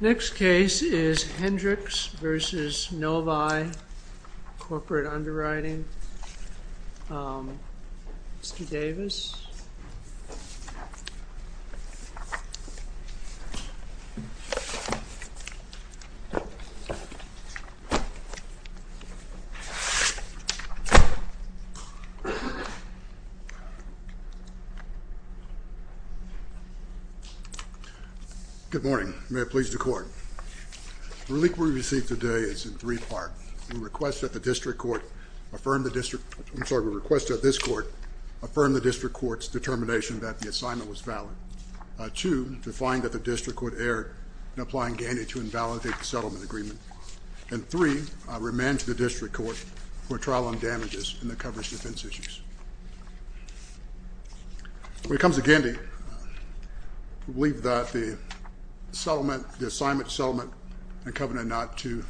Next case is Hendricks v. Novae Corporate Underwriting. Mr. Davis. Good morning. May it please the court. The relief we received today is in three parts. One, we request that the district court affirm the district, I'm sorry, we request that this court affirm the district court's determination that the assignment was valid. Two, to find that the district court erred in applying Gandy to invalidate the settlement agreement. And three, remand to the district court for trial on damages in the coverage defense issues. When it comes to Gandy, we believe that the settlement, the assignment settlement and covenant not to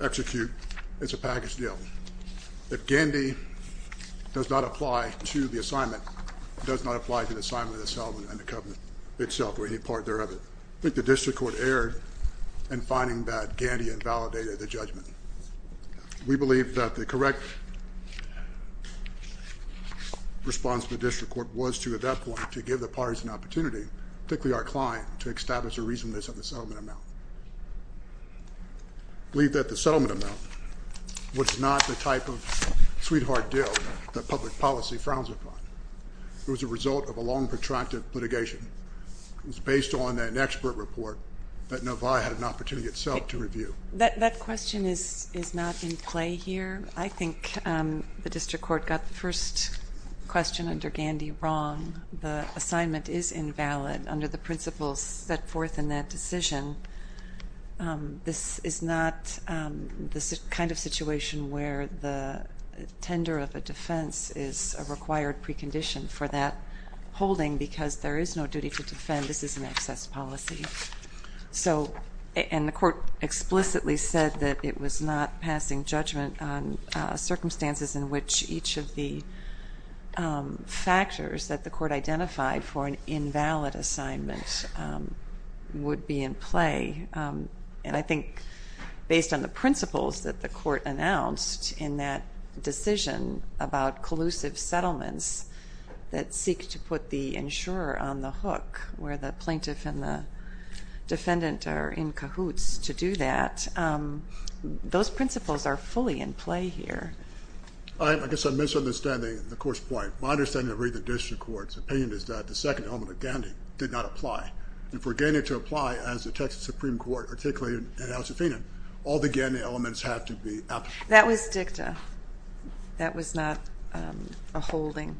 execute is a package deal. If Gandy does not apply to the assignment, it does not apply to the assignment of the settlement and the covenant itself or any part thereof. I think the district court erred in finding that Gandy invalidated the judgment. We believe that the correct response to the district court was to, at that point, to give the parties an opportunity, particularly our client, to establish a reasonableness of the settlement amount. We believe that the settlement amount was not the type of sweetheart deal that public policy frowns upon. It was a result of a long protracted litigation. It was based on an expert report that Novae had an opportunity itself to review. That question is not in play here. I think the district court got the first question under Gandy wrong. The assignment is invalid under the principles set forth in that decision. This is not the kind of situation where the tender of a defense is a required precondition for that holding because there is no duty to defend. This is an excess policy. The court explicitly said that it was not passing judgment on circumstances in which each of the factors that the court identified for an invalid assignment would be in play. I think based on the principles that the court announced in that decision about collusive settlements that seek to put the insurer on the hook where the plaintiff and the defendant are in cahoots to do that, those principles are fully in play here. I guess I'm misunderstanding the court's point. My understanding of the district court's opinion is that the second element of Gandy did not apply. If we're getting it to apply as the Texas Supreme Court articulated in House of Fena, all the Gandy elements have to be absent. That was dicta. That was not a holding.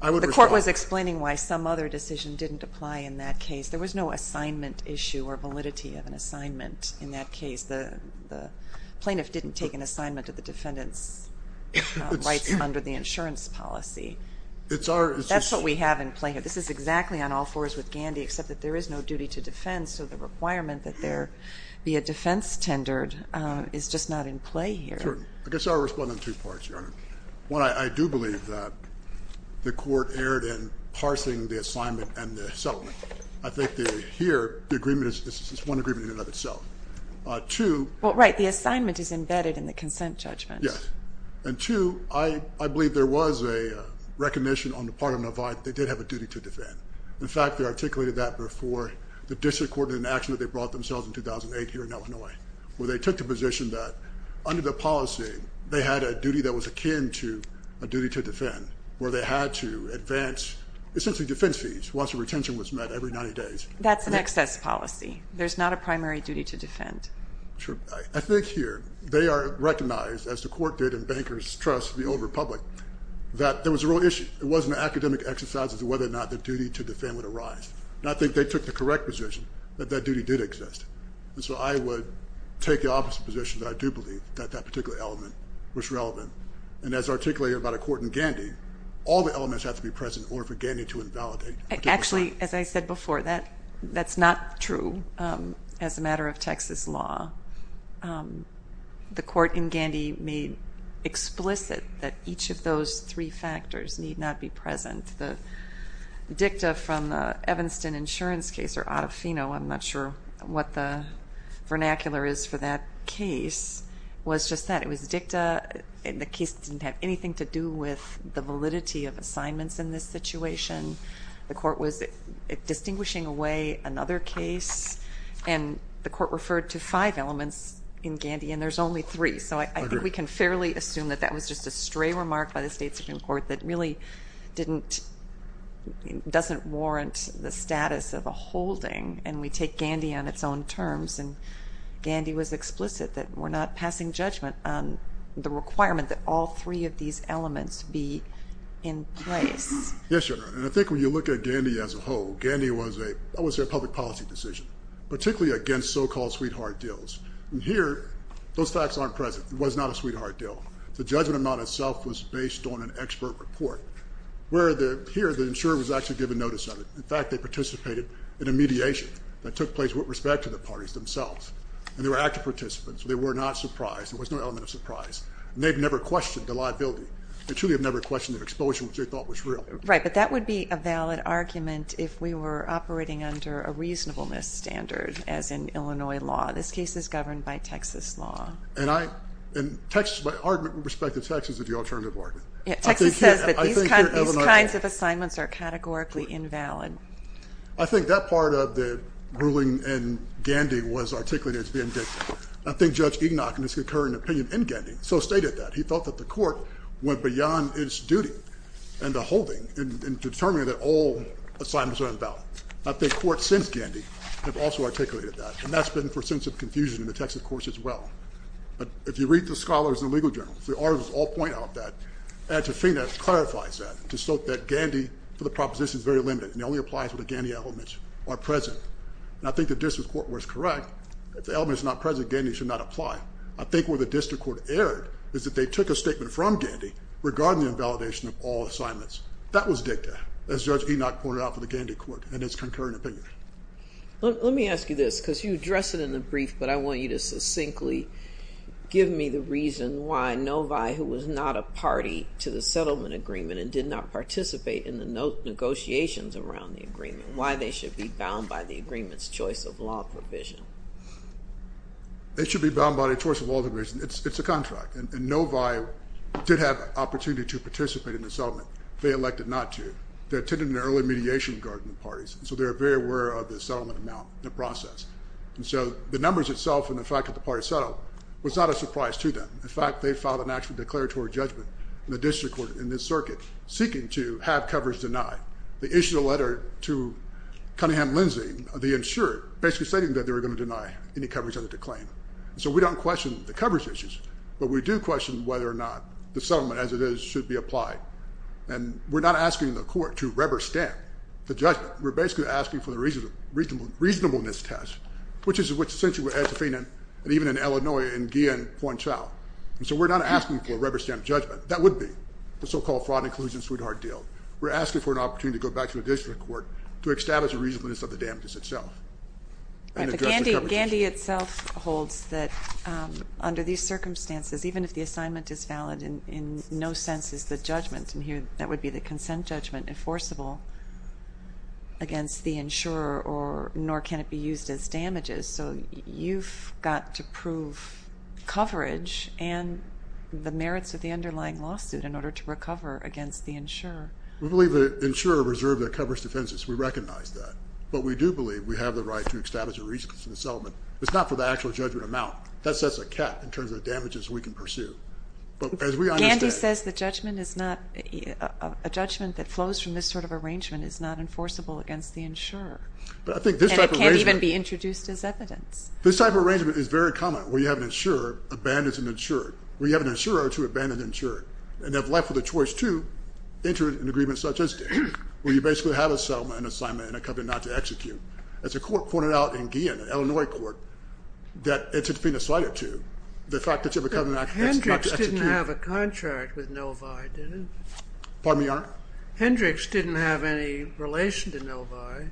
The court was explaining why some other decision didn't apply in that case. There was no assignment issue or validity of an assignment in that case. The plaintiff didn't take an assignment of the defendant's rights under the insurance policy. That's what we have in play here. This is exactly on all fours with Gandy, except that there is no duty to defense, so the requirement that there be a defense tendered is just not in play here. I guess I'll respond in two parts, Your Honor. One, I do believe that the court erred in parsing the assignment and the settlement. I think that here the agreement is one agreement in and of itself. Well, right, the assignment is embedded in the consent judgment. Yes, and two, I believe there was a recognition on the part of Navi that they did have a duty to defend. In fact, they articulated that before the district court in an action that they brought themselves in 2008 here in Illinois, where they took the position that under the policy they had a duty that was akin to a duty to defend, where they had to advance essentially defense fees once the retention was met every 90 days. That's an excess policy. There's not a primary duty to defend. Sure. I think here they are recognized, as the court did in Banker's Trust in the Old Republic, that there was a real issue. It wasn't an academic exercise as to whether or not the duty to defend would arise. I think they took the correct position that that duty did exist, and so I would take the opposite position that I do believe that that particular element was relevant, and as articulated by the court in Gandy, all the elements have to be present in order for Gandy to invalidate. Actually, as I said before, that's not true as a matter of Texas law. The court in Gandy made explicit that each of those three factors need not be present. The dicta from the Evanston insurance case, or autofino, I'm not sure what the vernacular is for that case, was just that. It was dicta, and the case didn't have anything to do with the validity of assignments in this situation. The court was distinguishing away another case, and the court referred to five elements in Gandy, and there's only three. So I think we can fairly assume that that was just a stray remark by the state Supreme Court that really doesn't warrant the status of a holding, and we take Gandy on its own terms, and Gandy was explicit that we're not passing judgment on the requirement that all three of these elements be in place. Yes, Your Honor, and I think when you look at Gandy as a whole, Gandy was a public policy decision, particularly against so-called sweetheart deals. Here, those facts aren't present. It was not a sweetheart deal. The judgment amount itself was based on an expert report, where here the insurer was actually given notice of it. In fact, they participated in a mediation that took place with respect to the parties themselves, and they were active participants, so they were not surprised. There was no element of surprise, and they've never questioned the liability. They truly have never questioned the exposure, which they thought was real. Right, but that would be a valid argument if we were operating under a reasonableness standard, as in Illinois law. This case is governed by Texas law. And I, in Texas, my argument with respect to Texas is the alternative argument. Yeah, Texas says that these kinds of assignments are categorically invalid. I think that part of the ruling in Gandy was articulated as being dictated. I think Judge Enoch, in his current opinion in Gandy, so stated that. He felt that the court went beyond its duty and the holding in determining that all assignments are invalid. I think courts since Gandy have also articulated that, and that's been for a sense of confusion in the Texas courts as well. But if you read the scholars and legal journals, the authors all point out that, and Tofina clarifies that, to show that Gandy, for the proposition, is very limited, and it only applies when the Gandy elements are present. And I think the district court was correct. If the elements are not present, Gandy should not apply. I think where the district court erred is that they took a statement from Gandy regarding the invalidation of all assignments. That was dicta, as Judge Enoch pointed out for the Gandy court in his concurrent opinion. Let me ask you this, because you addressed it in the brief, but I want you to succinctly give me the reason why Novi, who was not a party to the settlement agreement, and did not participate in the negotiations around the agreement, why they should be bound by the agreement's choice of law provision. They should be bound by the choice of law provision. It's a contract, and Novi did have an opportunity to participate in the settlement. They elected not to. They attended an early mediation regarding the parties, so they were very aware of the settlement amount, the process. And so the numbers itself and the fact that the parties settled was not a surprise to them. In fact, they filed an actual declaratory judgment in the district court in this circuit, seeking to have coverage denied. They issued a letter to Cunningham-Lindsay, the insurer, basically stating that they were going to deny any coverage of the decline. So we don't question the coverage issues, but we do question whether or not the settlement, as it is, should be applied. And we're not asking the court to rubber stamp the judgment. We're basically asking for the reasonableness test, which is essentially what Ed Safin and even in Illinois and Guillen point out. And so we're not asking for a rubber stamp judgment. That would be the so-called fraud inclusion sweetheart deal. We're asking for an opportunity to go back to the district court to establish the reasonableness of the damages itself and address the coverage issue. Gandy itself holds that under these circumstances, even if the assignment is valid, in no sense is the judgment, and here that would be the consent judgment, enforceable against the insurer, nor can it be used as damages. So you've got to prove coverage and the merits of the underlying lawsuit in order to recover against the insurer. We believe the insurer reserved the coverage defenses. We recognize that. But we do believe we have the right to establish a reasonableness in the settlement. It's not for the actual judgment amount. That sets a cap in terms of damages we can pursue. Gandy says the judgment is not – a judgment that flows from this sort of arrangement is not enforceable against the insurer. And it can't even be introduced as evidence. This type of arrangement is very common, where you have an insurer abandons an insurer, where you have an insurer to abandon an insurer, and they're left with a choice to enter an agreement such as this, where you basically have a settlement, an assignment, and a covenant not to execute. As the court pointed out in Guillen, Illinois court, that it's been decided to, the fact that you have a covenant not to execute. But Hendricks didn't have a contract with Novi, did he? Pardon me, Your Honor? Hendricks didn't have any relation to Novi.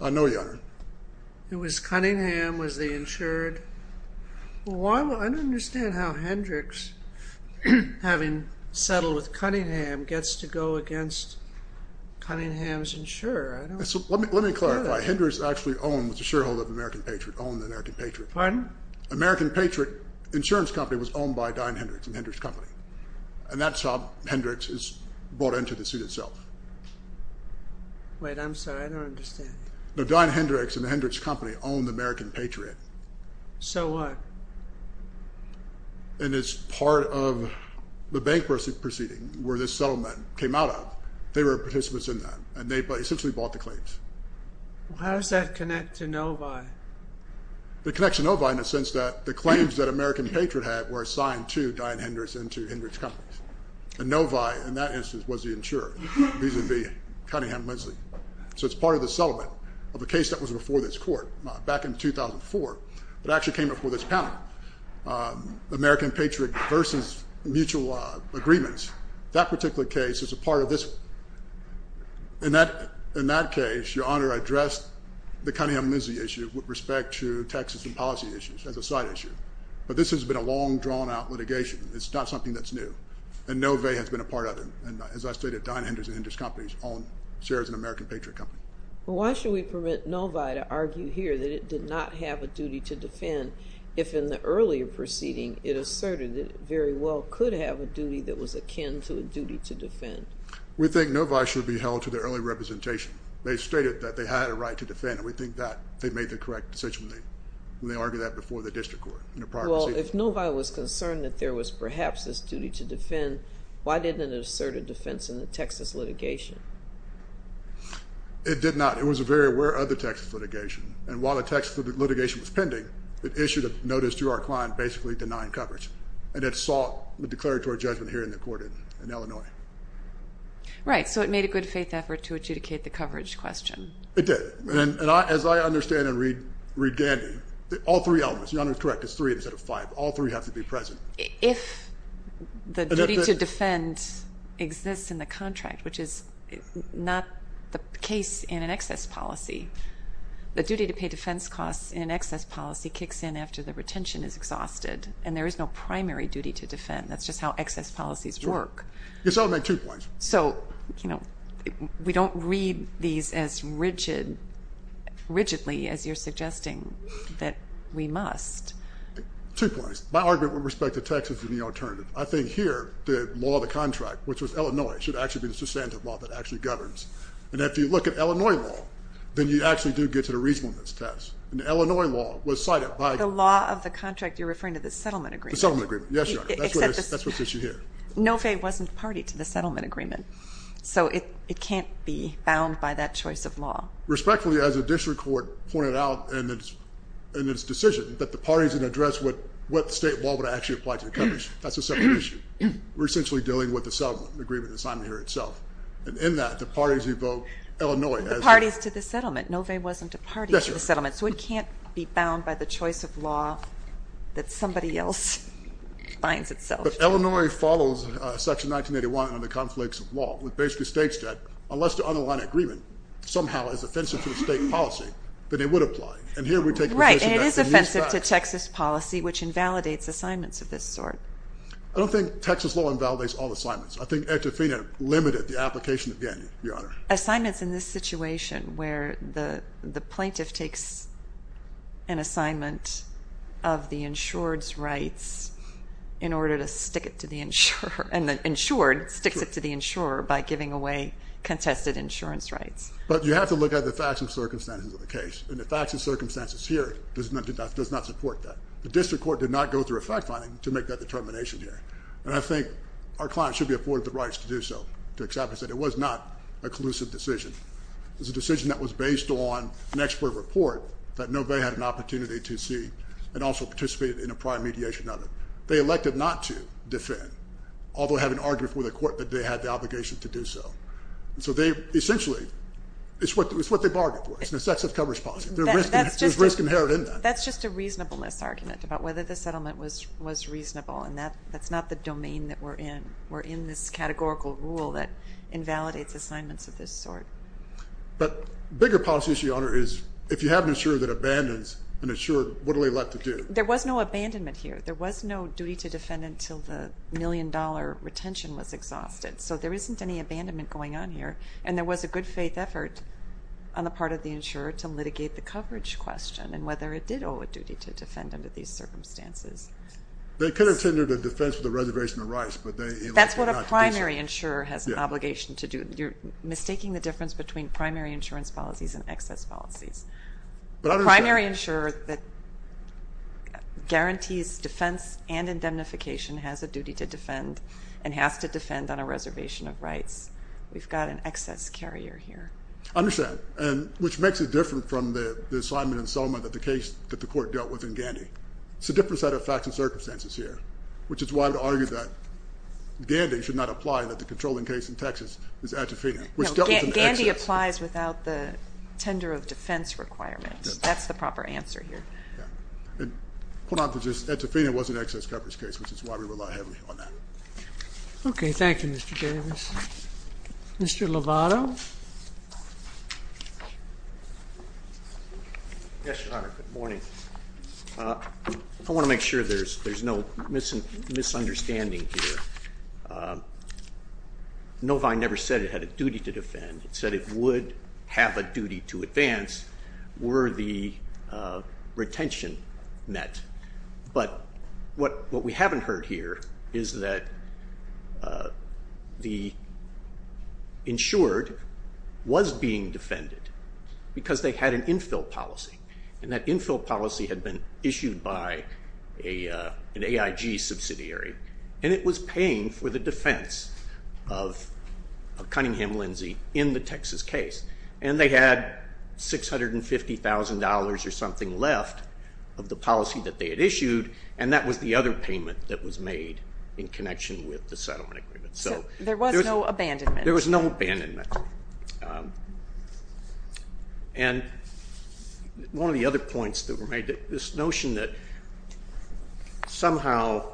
I know, Your Honor. It was Cunningham, was the insured. I don't understand how Hendricks, having settled with Cunningham, gets to go against Cunningham's insurer. Let me clarify. Hendricks actually owned, was a shareholder of American Patriot, owned American Patriot. Pardon? American Patriot Insurance Company was owned by Dyn Hendricks and Hendricks Company. And that's how Hendricks is brought into the suit itself. Wait, I'm sorry. I don't understand. Dyn Hendricks and Hendricks Company owned American Patriot. So what? And it's part of the bankruptcy proceeding where this settlement came out of. They were participants in that. And they essentially bought the claims. How does that connect to Novi? It connects to Novi in the sense that the claims that American Patriot had were assigned to Dyn Hendricks and to Hendricks Company. And Novi, in that instance, was the insurer, reason being Cunningham and Lindsley. So it's part of the settlement of a case that was before this court back in 2004 that actually came before this panel. American Patriot versus mutual agreements. That particular case is a part of this. In that case, Your Honor, I addressed the Cunningham-Lindsley issue with respect to taxes and policy issues as a side issue. But this has been a long, drawn-out litigation. It's not something that's new. And Novi has been a part of it. And as I stated, Dyn Hendricks and Hendricks Company own shares in American Patriot Company. Why should we permit Novi to argue here that it did not have a duty to defend if in the earlier proceeding it asserted it very well could have a duty that was akin to a duty to defend? We think Novi should be held to their early representation. They stated that they had a right to defend. And we think that they made the correct decision when they argued that before the district court in a prior proceeding. Well, if Novi was concerned that there was perhaps this duty to defend, why didn't it assert a defense in the Texas litigation? It did not. It was very aware of the Texas litigation. And while the Texas litigation was pending, it issued a notice to our client basically denying coverage. And it sought the declaratory judgment here in the court in Illinois. Right. So it made a good-faith effort to adjudicate the coverage question. It did. And as I understand and read Gandy, all three elements, Your Honor is correct, it's three instead of five. All three have to be present. If the duty to defend exists in the contract, which is not the case in an excess policy, the duty to pay defense costs in an excess policy kicks in after the retention is exhausted and there is no primary duty to defend. That's just how excess policies work. Yes, I'll make two points. So we don't read these as rigidly as you're suggesting that we must. Two points. My argument with respect to Texas is the alternative. I think here the law of the contract, which was Illinois, should actually be the substantive law that actually governs. And if you look at Illinois law, then you actually do get to the reasonableness test. And Illinois law was cited by- The law of the contract you're referring to, the settlement agreement. The settlement agreement. Yes, Your Honor. That's what sits you here. Nofay wasn't party to the settlement agreement. So it can't be bound by that choice of law. Respectfully, as the district court pointed out in its decision, that the parties would address what state law would actually apply to the country. That's a separate issue. We're essentially dealing with the settlement agreement that's on here itself. And in that, the parties evoke Illinois as- The parties to the settlement. Nofay wasn't a party to the settlement. Yes, Your Honor. So it can't be bound by the choice of law that somebody else finds itself. But Illinois follows Section 1981 on the conflicts of law, which basically states that unless the underlying agreement somehow is offensive to the state policy, that it would apply. Right. And it is offensive to Texas policy, which invalidates assignments of this sort. I don't think Texas law invalidates all assignments. I think Ed Tofina limited the application again, Your Honor. Assignments in this situation, where the plaintiff takes an assignment of the insured's rights in order to stick it to the insurer. And the insured sticks it to the insurer by giving away contested insurance rights. But you have to look at the facts and circumstances of the case. And the facts and circumstances here does not support that. The district court did not go through a fact-finding to make that determination here. And I think our client should be afforded the rights to do so, to accept that it was not a collusive decision. It was a decision that was based on an expert report that Nofay had an opportunity to see and also participated in a prior mediation of it. They elected not to defend, although having argued with the court that they had the obligation to do so. So they essentially- It's what they bargained for. It's an excessive coverage policy. There's risk inherent in that. That's just a reasonableness argument about whether the settlement was reasonable. And that's not the domain that we're in. We're in this categorical rule that invalidates assignments of this sort. But a bigger policy issue, Your Honor, is if you have an insurer that abandons an insurer, what are they left to do? There was no abandonment here. There was no duty to defend until the million-dollar retention was exhausted. So there isn't any abandonment going on here. And there was a good-faith effort on the part of the insurer to litigate the coverage question and whether it did owe a duty to defend under these circumstances. They could have tendered a defense with a reservation of rights, but they elected not to do so. That's what a primary insurer has an obligation to do. You're mistaking the difference between primary insurance policies and excess policies. A primary insurer that guarantees defense and indemnification has a duty to defend and has to defend on a reservation of rights. We've got an excess carrier here. I understand, which makes it different from the assignment in Selma that the court dealt with in Gandy. It's a different set of facts and circumstances here, which is why I would argue that Gandy should not apply that the controlling case in Texas is atrophied. Gandy applies without the tender of defense requirement. That's the proper answer here. Hold on. Atrophied was an excess coverage case, which is why we rely heavily on that. Okay. Thank you, Mr. Davis. Mr. Lovato. Yes, Your Honor. Good morning. I want to make sure there's no misunderstanding here. Novine never said it had a duty to defend. It said it would have a duty to advance were the retention met. What we haven't heard here is that the insured was being defended because they had an infill policy, and that infill policy had been issued by an AIG subsidiary, and it was paying for the defense of Cunningham-Lindsey in the Texas case. And they had $650,000 or something left of the policy that they had issued, and that was the other payment that was made in connection with the settlement agreement. So there was no abandonment. There was no abandonment. And one of the other points that were made, this notion that somehow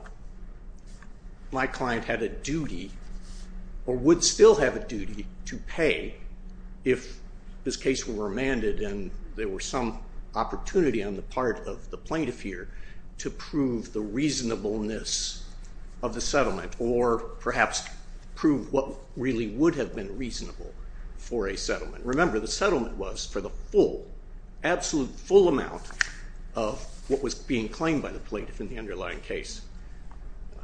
my client had a duty or would still have a duty to pay if this case were remanded and there were some opportunity on the part of the plaintiff here to prove the reasonableness of the settlement or perhaps prove what really would have been reasonable for a settlement. Remember, the settlement was for the full, absolute full amount of what was being claimed by the plaintiff in the underlying case.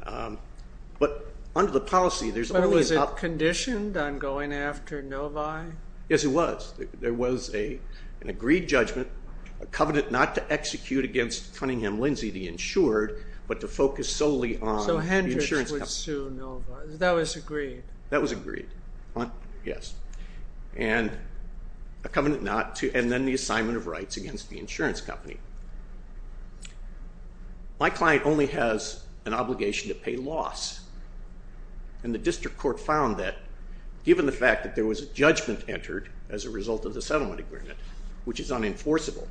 But under the policy, there's always a... But was it conditioned on going after Novi? Yes, it was. There was an agreed judgment, a covenant not to execute against Cunningham-Lindsey, the insured, but to focus solely on the insurance company. So Hendricks would sue Novi. That was agreed. That was agreed, yes. And a covenant not to, and then the assignment of rights against the insurance company. My client only has an obligation to pay loss, and the district court found that, given the fact that there was a judgment entered as a result of the settlement agreement, which is unenforceable,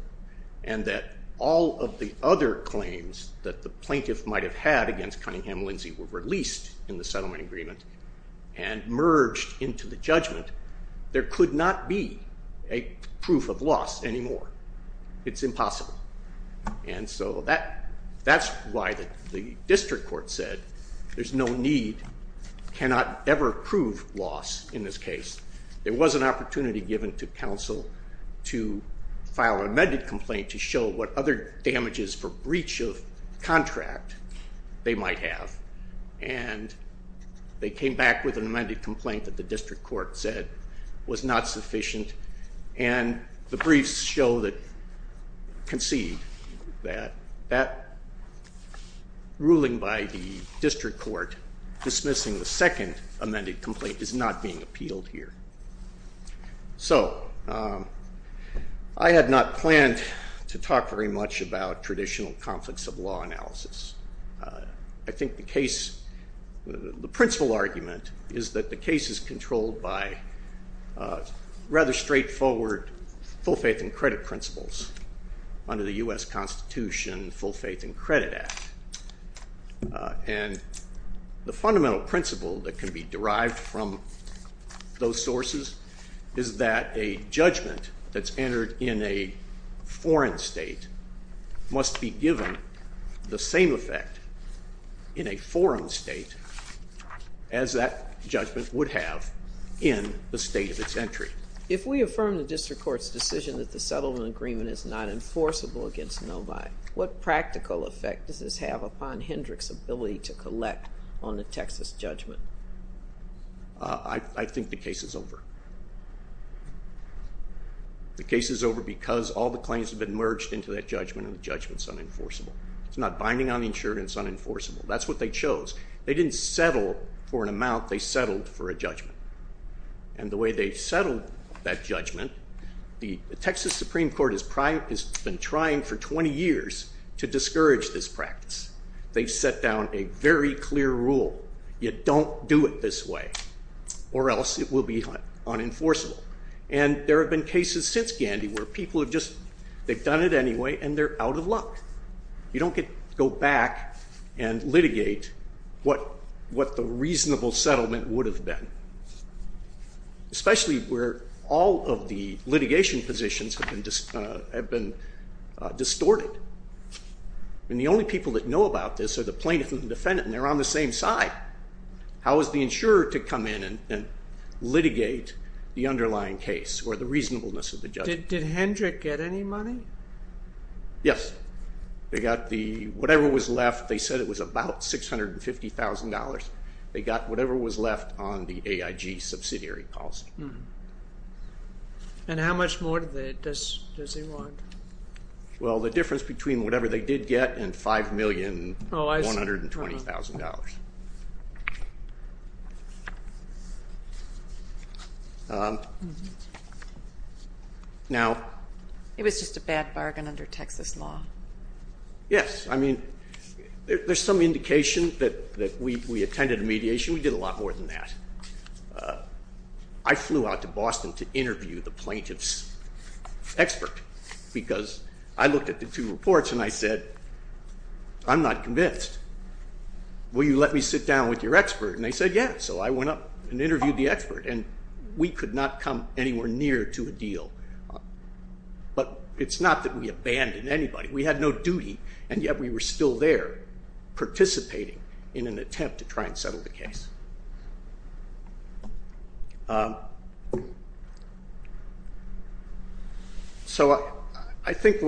and that all of the other claims that the plaintiff might have had against Cunningham-Lindsey were released in the settlement agreement and merged into the judgment, there could not be a proof of loss anymore. It's impossible. And so that's why the district court said there's no need, cannot ever prove loss in this case. There was an opportunity given to counsel to file an amended complaint to show what other damages for breach of contract they might have, and they came back with an amended complaint that the district court said was not sufficient, and the briefs show that, concede, that ruling by the district court dismissing the second amended complaint is not being appealed here. So I had not planned to talk very much about traditional conflicts of law analysis. I think the case, the principal argument, is that the case is controlled by rather straightforward full faith and credit principles under the U.S. Constitution Full Faith and Credit Act. And the fundamental principle that can be derived from those sources is that a judgment that's entered in a foreign state must be given the same effect in a foreign state as that judgment would have in the state of its entry. If we affirm the district court's decision that the settlement agreement is not enforceable against nobody, what practical effect does this have upon Hendrick's ability to collect on the Texas judgment? I think the case is over. The case is over because all the claims have been merged into that judgment, and the judgment's unenforceable. It's not binding on the insurance, it's unenforceable. That's what they chose. They didn't settle for an amount. They settled for a judgment. And the way they settled that judgment, the Texas Supreme Court has been trying for 20 years to discourage this practice. They've set down a very clear rule. You don't do it this way, or else it will be unenforceable. And there have been cases since Gandhi where people have just done it anyway and they're out of luck. You don't go back and litigate what the reasonable settlement would have been, especially where all of the litigation positions have been distorted. And the only people that know about this are the plaintiff and the defendant, and they're on the same side. How is the insurer to come in and litigate the underlying case or the reasonableness of the judgment? Did Hendrick get any money? Yes. They got whatever was left. They said it was about $650,000. They got whatever was left on the AIG subsidiary policy. And how much more does he want? Well, the difference between whatever they did get and $5,120,000. Now... It was just a bad bargain under Texas law. Yes. I mean, there's some indication that we attended a mediation. We did a lot more than that. I flew out to Boston to interview the plaintiff's expert because I looked at the two reports and I said, I'm not convinced. Will you let me sit down with your expert? And they said, yeah. So I went up and interviewed the expert, and we could not come anywhere near to a deal. But it's not that we abandoned anybody. We had no duty, and yet we were still there participating in an attempt to try and settle the case. So I think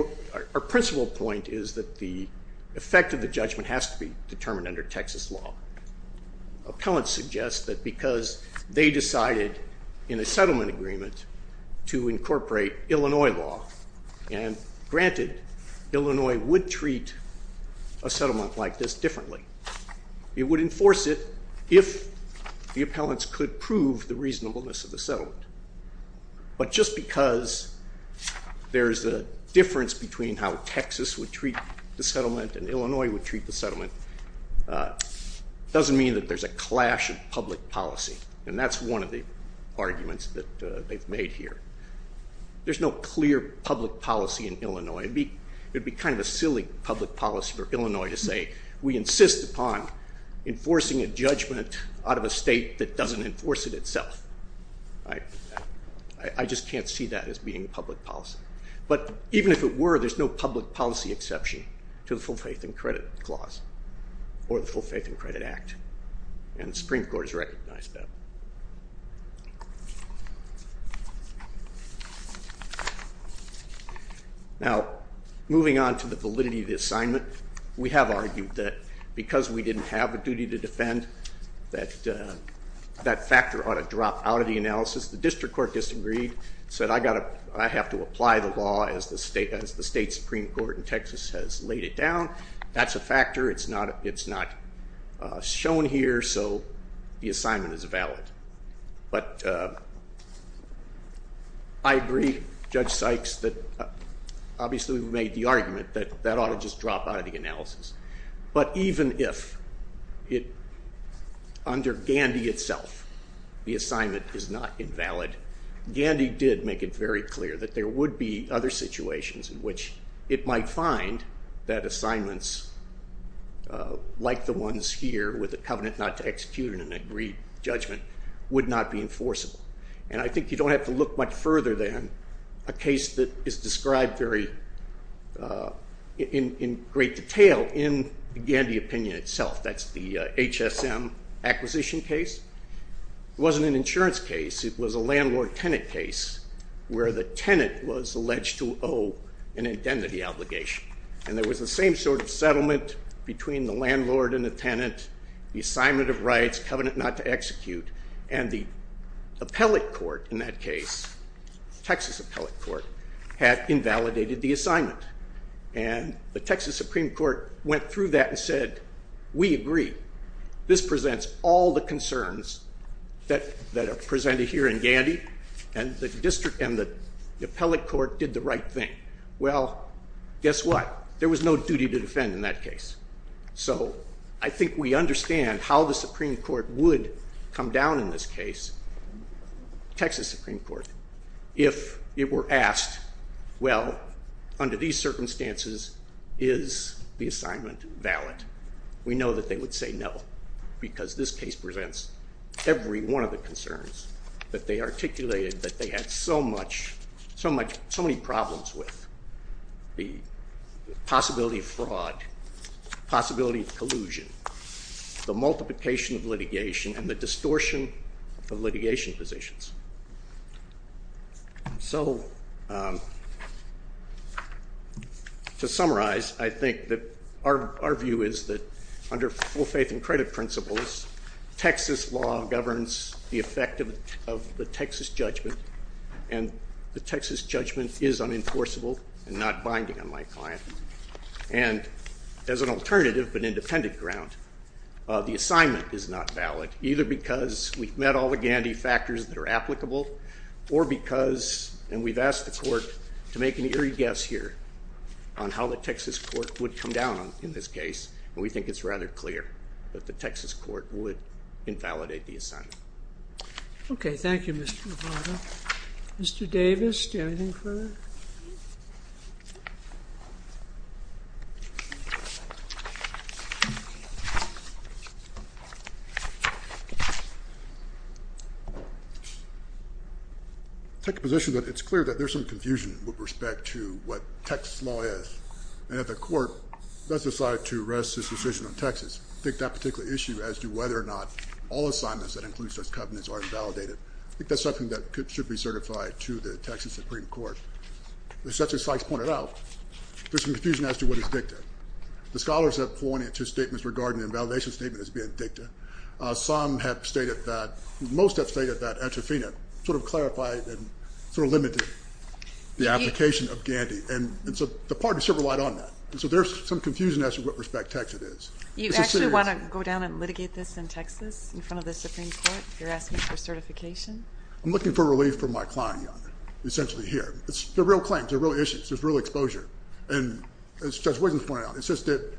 our principal point is that the effect of the judgment has to be determined under Texas law. Appellants suggest that because they decided in a settlement agreement to incorporate Illinois law, and granted, Illinois would treat a settlement like this differently. It would enforce it if the appellants could prove the reasonableness of the settlement. But just because there's a difference between how Texas would treat the settlement and Illinois would treat the settlement doesn't mean that there's a clash of public policy, and that's one of the arguments that they've made here. There's no clear public policy in Illinois. It would be kind of a silly public policy for Illinois to say, we insist upon enforcing a judgment out of a state that doesn't enforce it itself. I just can't see that as being public policy. But even if it were, there's no public policy exception to the full faith and credit clause or the full faith and credit act, and the Supreme Court has recognized that. Now, moving on to the validity of the assignment, we have argued that because we didn't have a duty to defend, that factor ought to drop out of the analysis. The district court disagreed, said I have to apply the law as the state Supreme Court in Texas has laid it down. That's a factor. It's not shown here, so the assignment is valid. But I agree, Judge Sykes, that obviously we've made the argument that that ought to just drop out of the analysis. But even if under Gandy itself the assignment is not invalid, Gandy did make it very clear that there would be other situations in which it might find that assignments like the ones here with a covenant not to execute and an agreed judgment would not be enforceable. And I think you don't have to look much further than a case that is described in great detail in the Gandy opinion itself. That's the HSM acquisition case. It wasn't an insurance case. It was a landlord-tenant case where the tenant was alleged to owe an indemnity obligation. And there was the same sort of settlement between the landlord and the tenant, the assignment of rights, covenant not to execute, and the appellate court in that case, Texas appellate court, had invalidated the assignment. And the Texas Supreme Court went through that and said we agree. This presents all the concerns that are presented here in Gandy, and the district and the appellate court did the right thing. Well, guess what? There was no duty to defend in that case. So I think we understand how the Supreme Court would come down in this case, Texas Supreme Court, if it were asked, well, under these circumstances, is the assignment valid? We know that they would say no because this case presents every one of the concerns that they articulated that they had so many problems with, the possibility of fraud, possibility of collusion, the multiplication of litigation, and the distortion of litigation positions. So to summarize, I think that our view is that under full faith and credit principles, Texas law governs the effect of the Texas judgment, and the Texas judgment is unenforceable and not binding on my client. And as an alternative but independent ground, the assignment is not valid, either because we've met all the Gandy factors that are applicable or because, and we've asked the court to make an eerie guess here on how the Texas court would come down in this case, and we think it's rather clear that the Texas court would invalidate the assignment. Okay. Thank you, Mr. Lovato. Mr. Davis, do you have anything further? I take the position that it's clear that there's some confusion with respect to what Texas law is, and that the court does decide to rest its decision on Texas. I think that particular issue as to whether or not all assignments that include such covenants are invalidated, I think that's something that should be certified to the Texas Supreme Court. As Justice Sykes pointed out, there's some confusion as to what is dicta. The scholars have pointed to statements regarding the invalidation statement as being dicta. Some have stated that, most have stated that entrofina sort of clarified and sort of limited the application of Gandy. And so the parties still relied on that. So there's some confusion as to what respect texted is. You actually want to go down and litigate this in Texas in front of the Supreme Court if you're asking for certification? I'm looking for relief from my client, Your Honor, essentially here. They're real claims. They're real issues. There's real exposure. And as Judge Wiggins pointed out, it's just that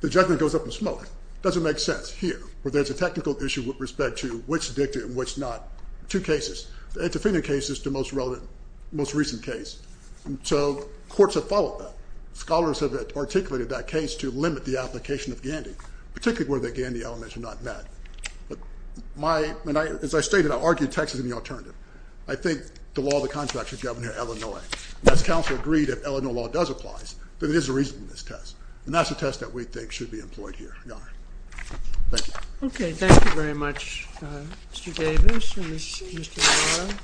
the judgment goes up in smoke. It doesn't make sense here where there's a technical issue with respect to which dicta and which not, two cases. The entrofina case is the most recent case. So courts have followed that. Scholars have articulated that case to limit the application of Gandy, particularly where the Gandy elements are not met. But as I stated, I'll argue Texas is the alternative. I think the law of the contract should govern here Illinois. And as counsel agreed, if Illinois law does applies, then it is a reasonableness test. And that's a test that we think should be employed here, Your Honor. Thank you. Okay. Thank you very much, Mr. Davis and Mr. Navarro.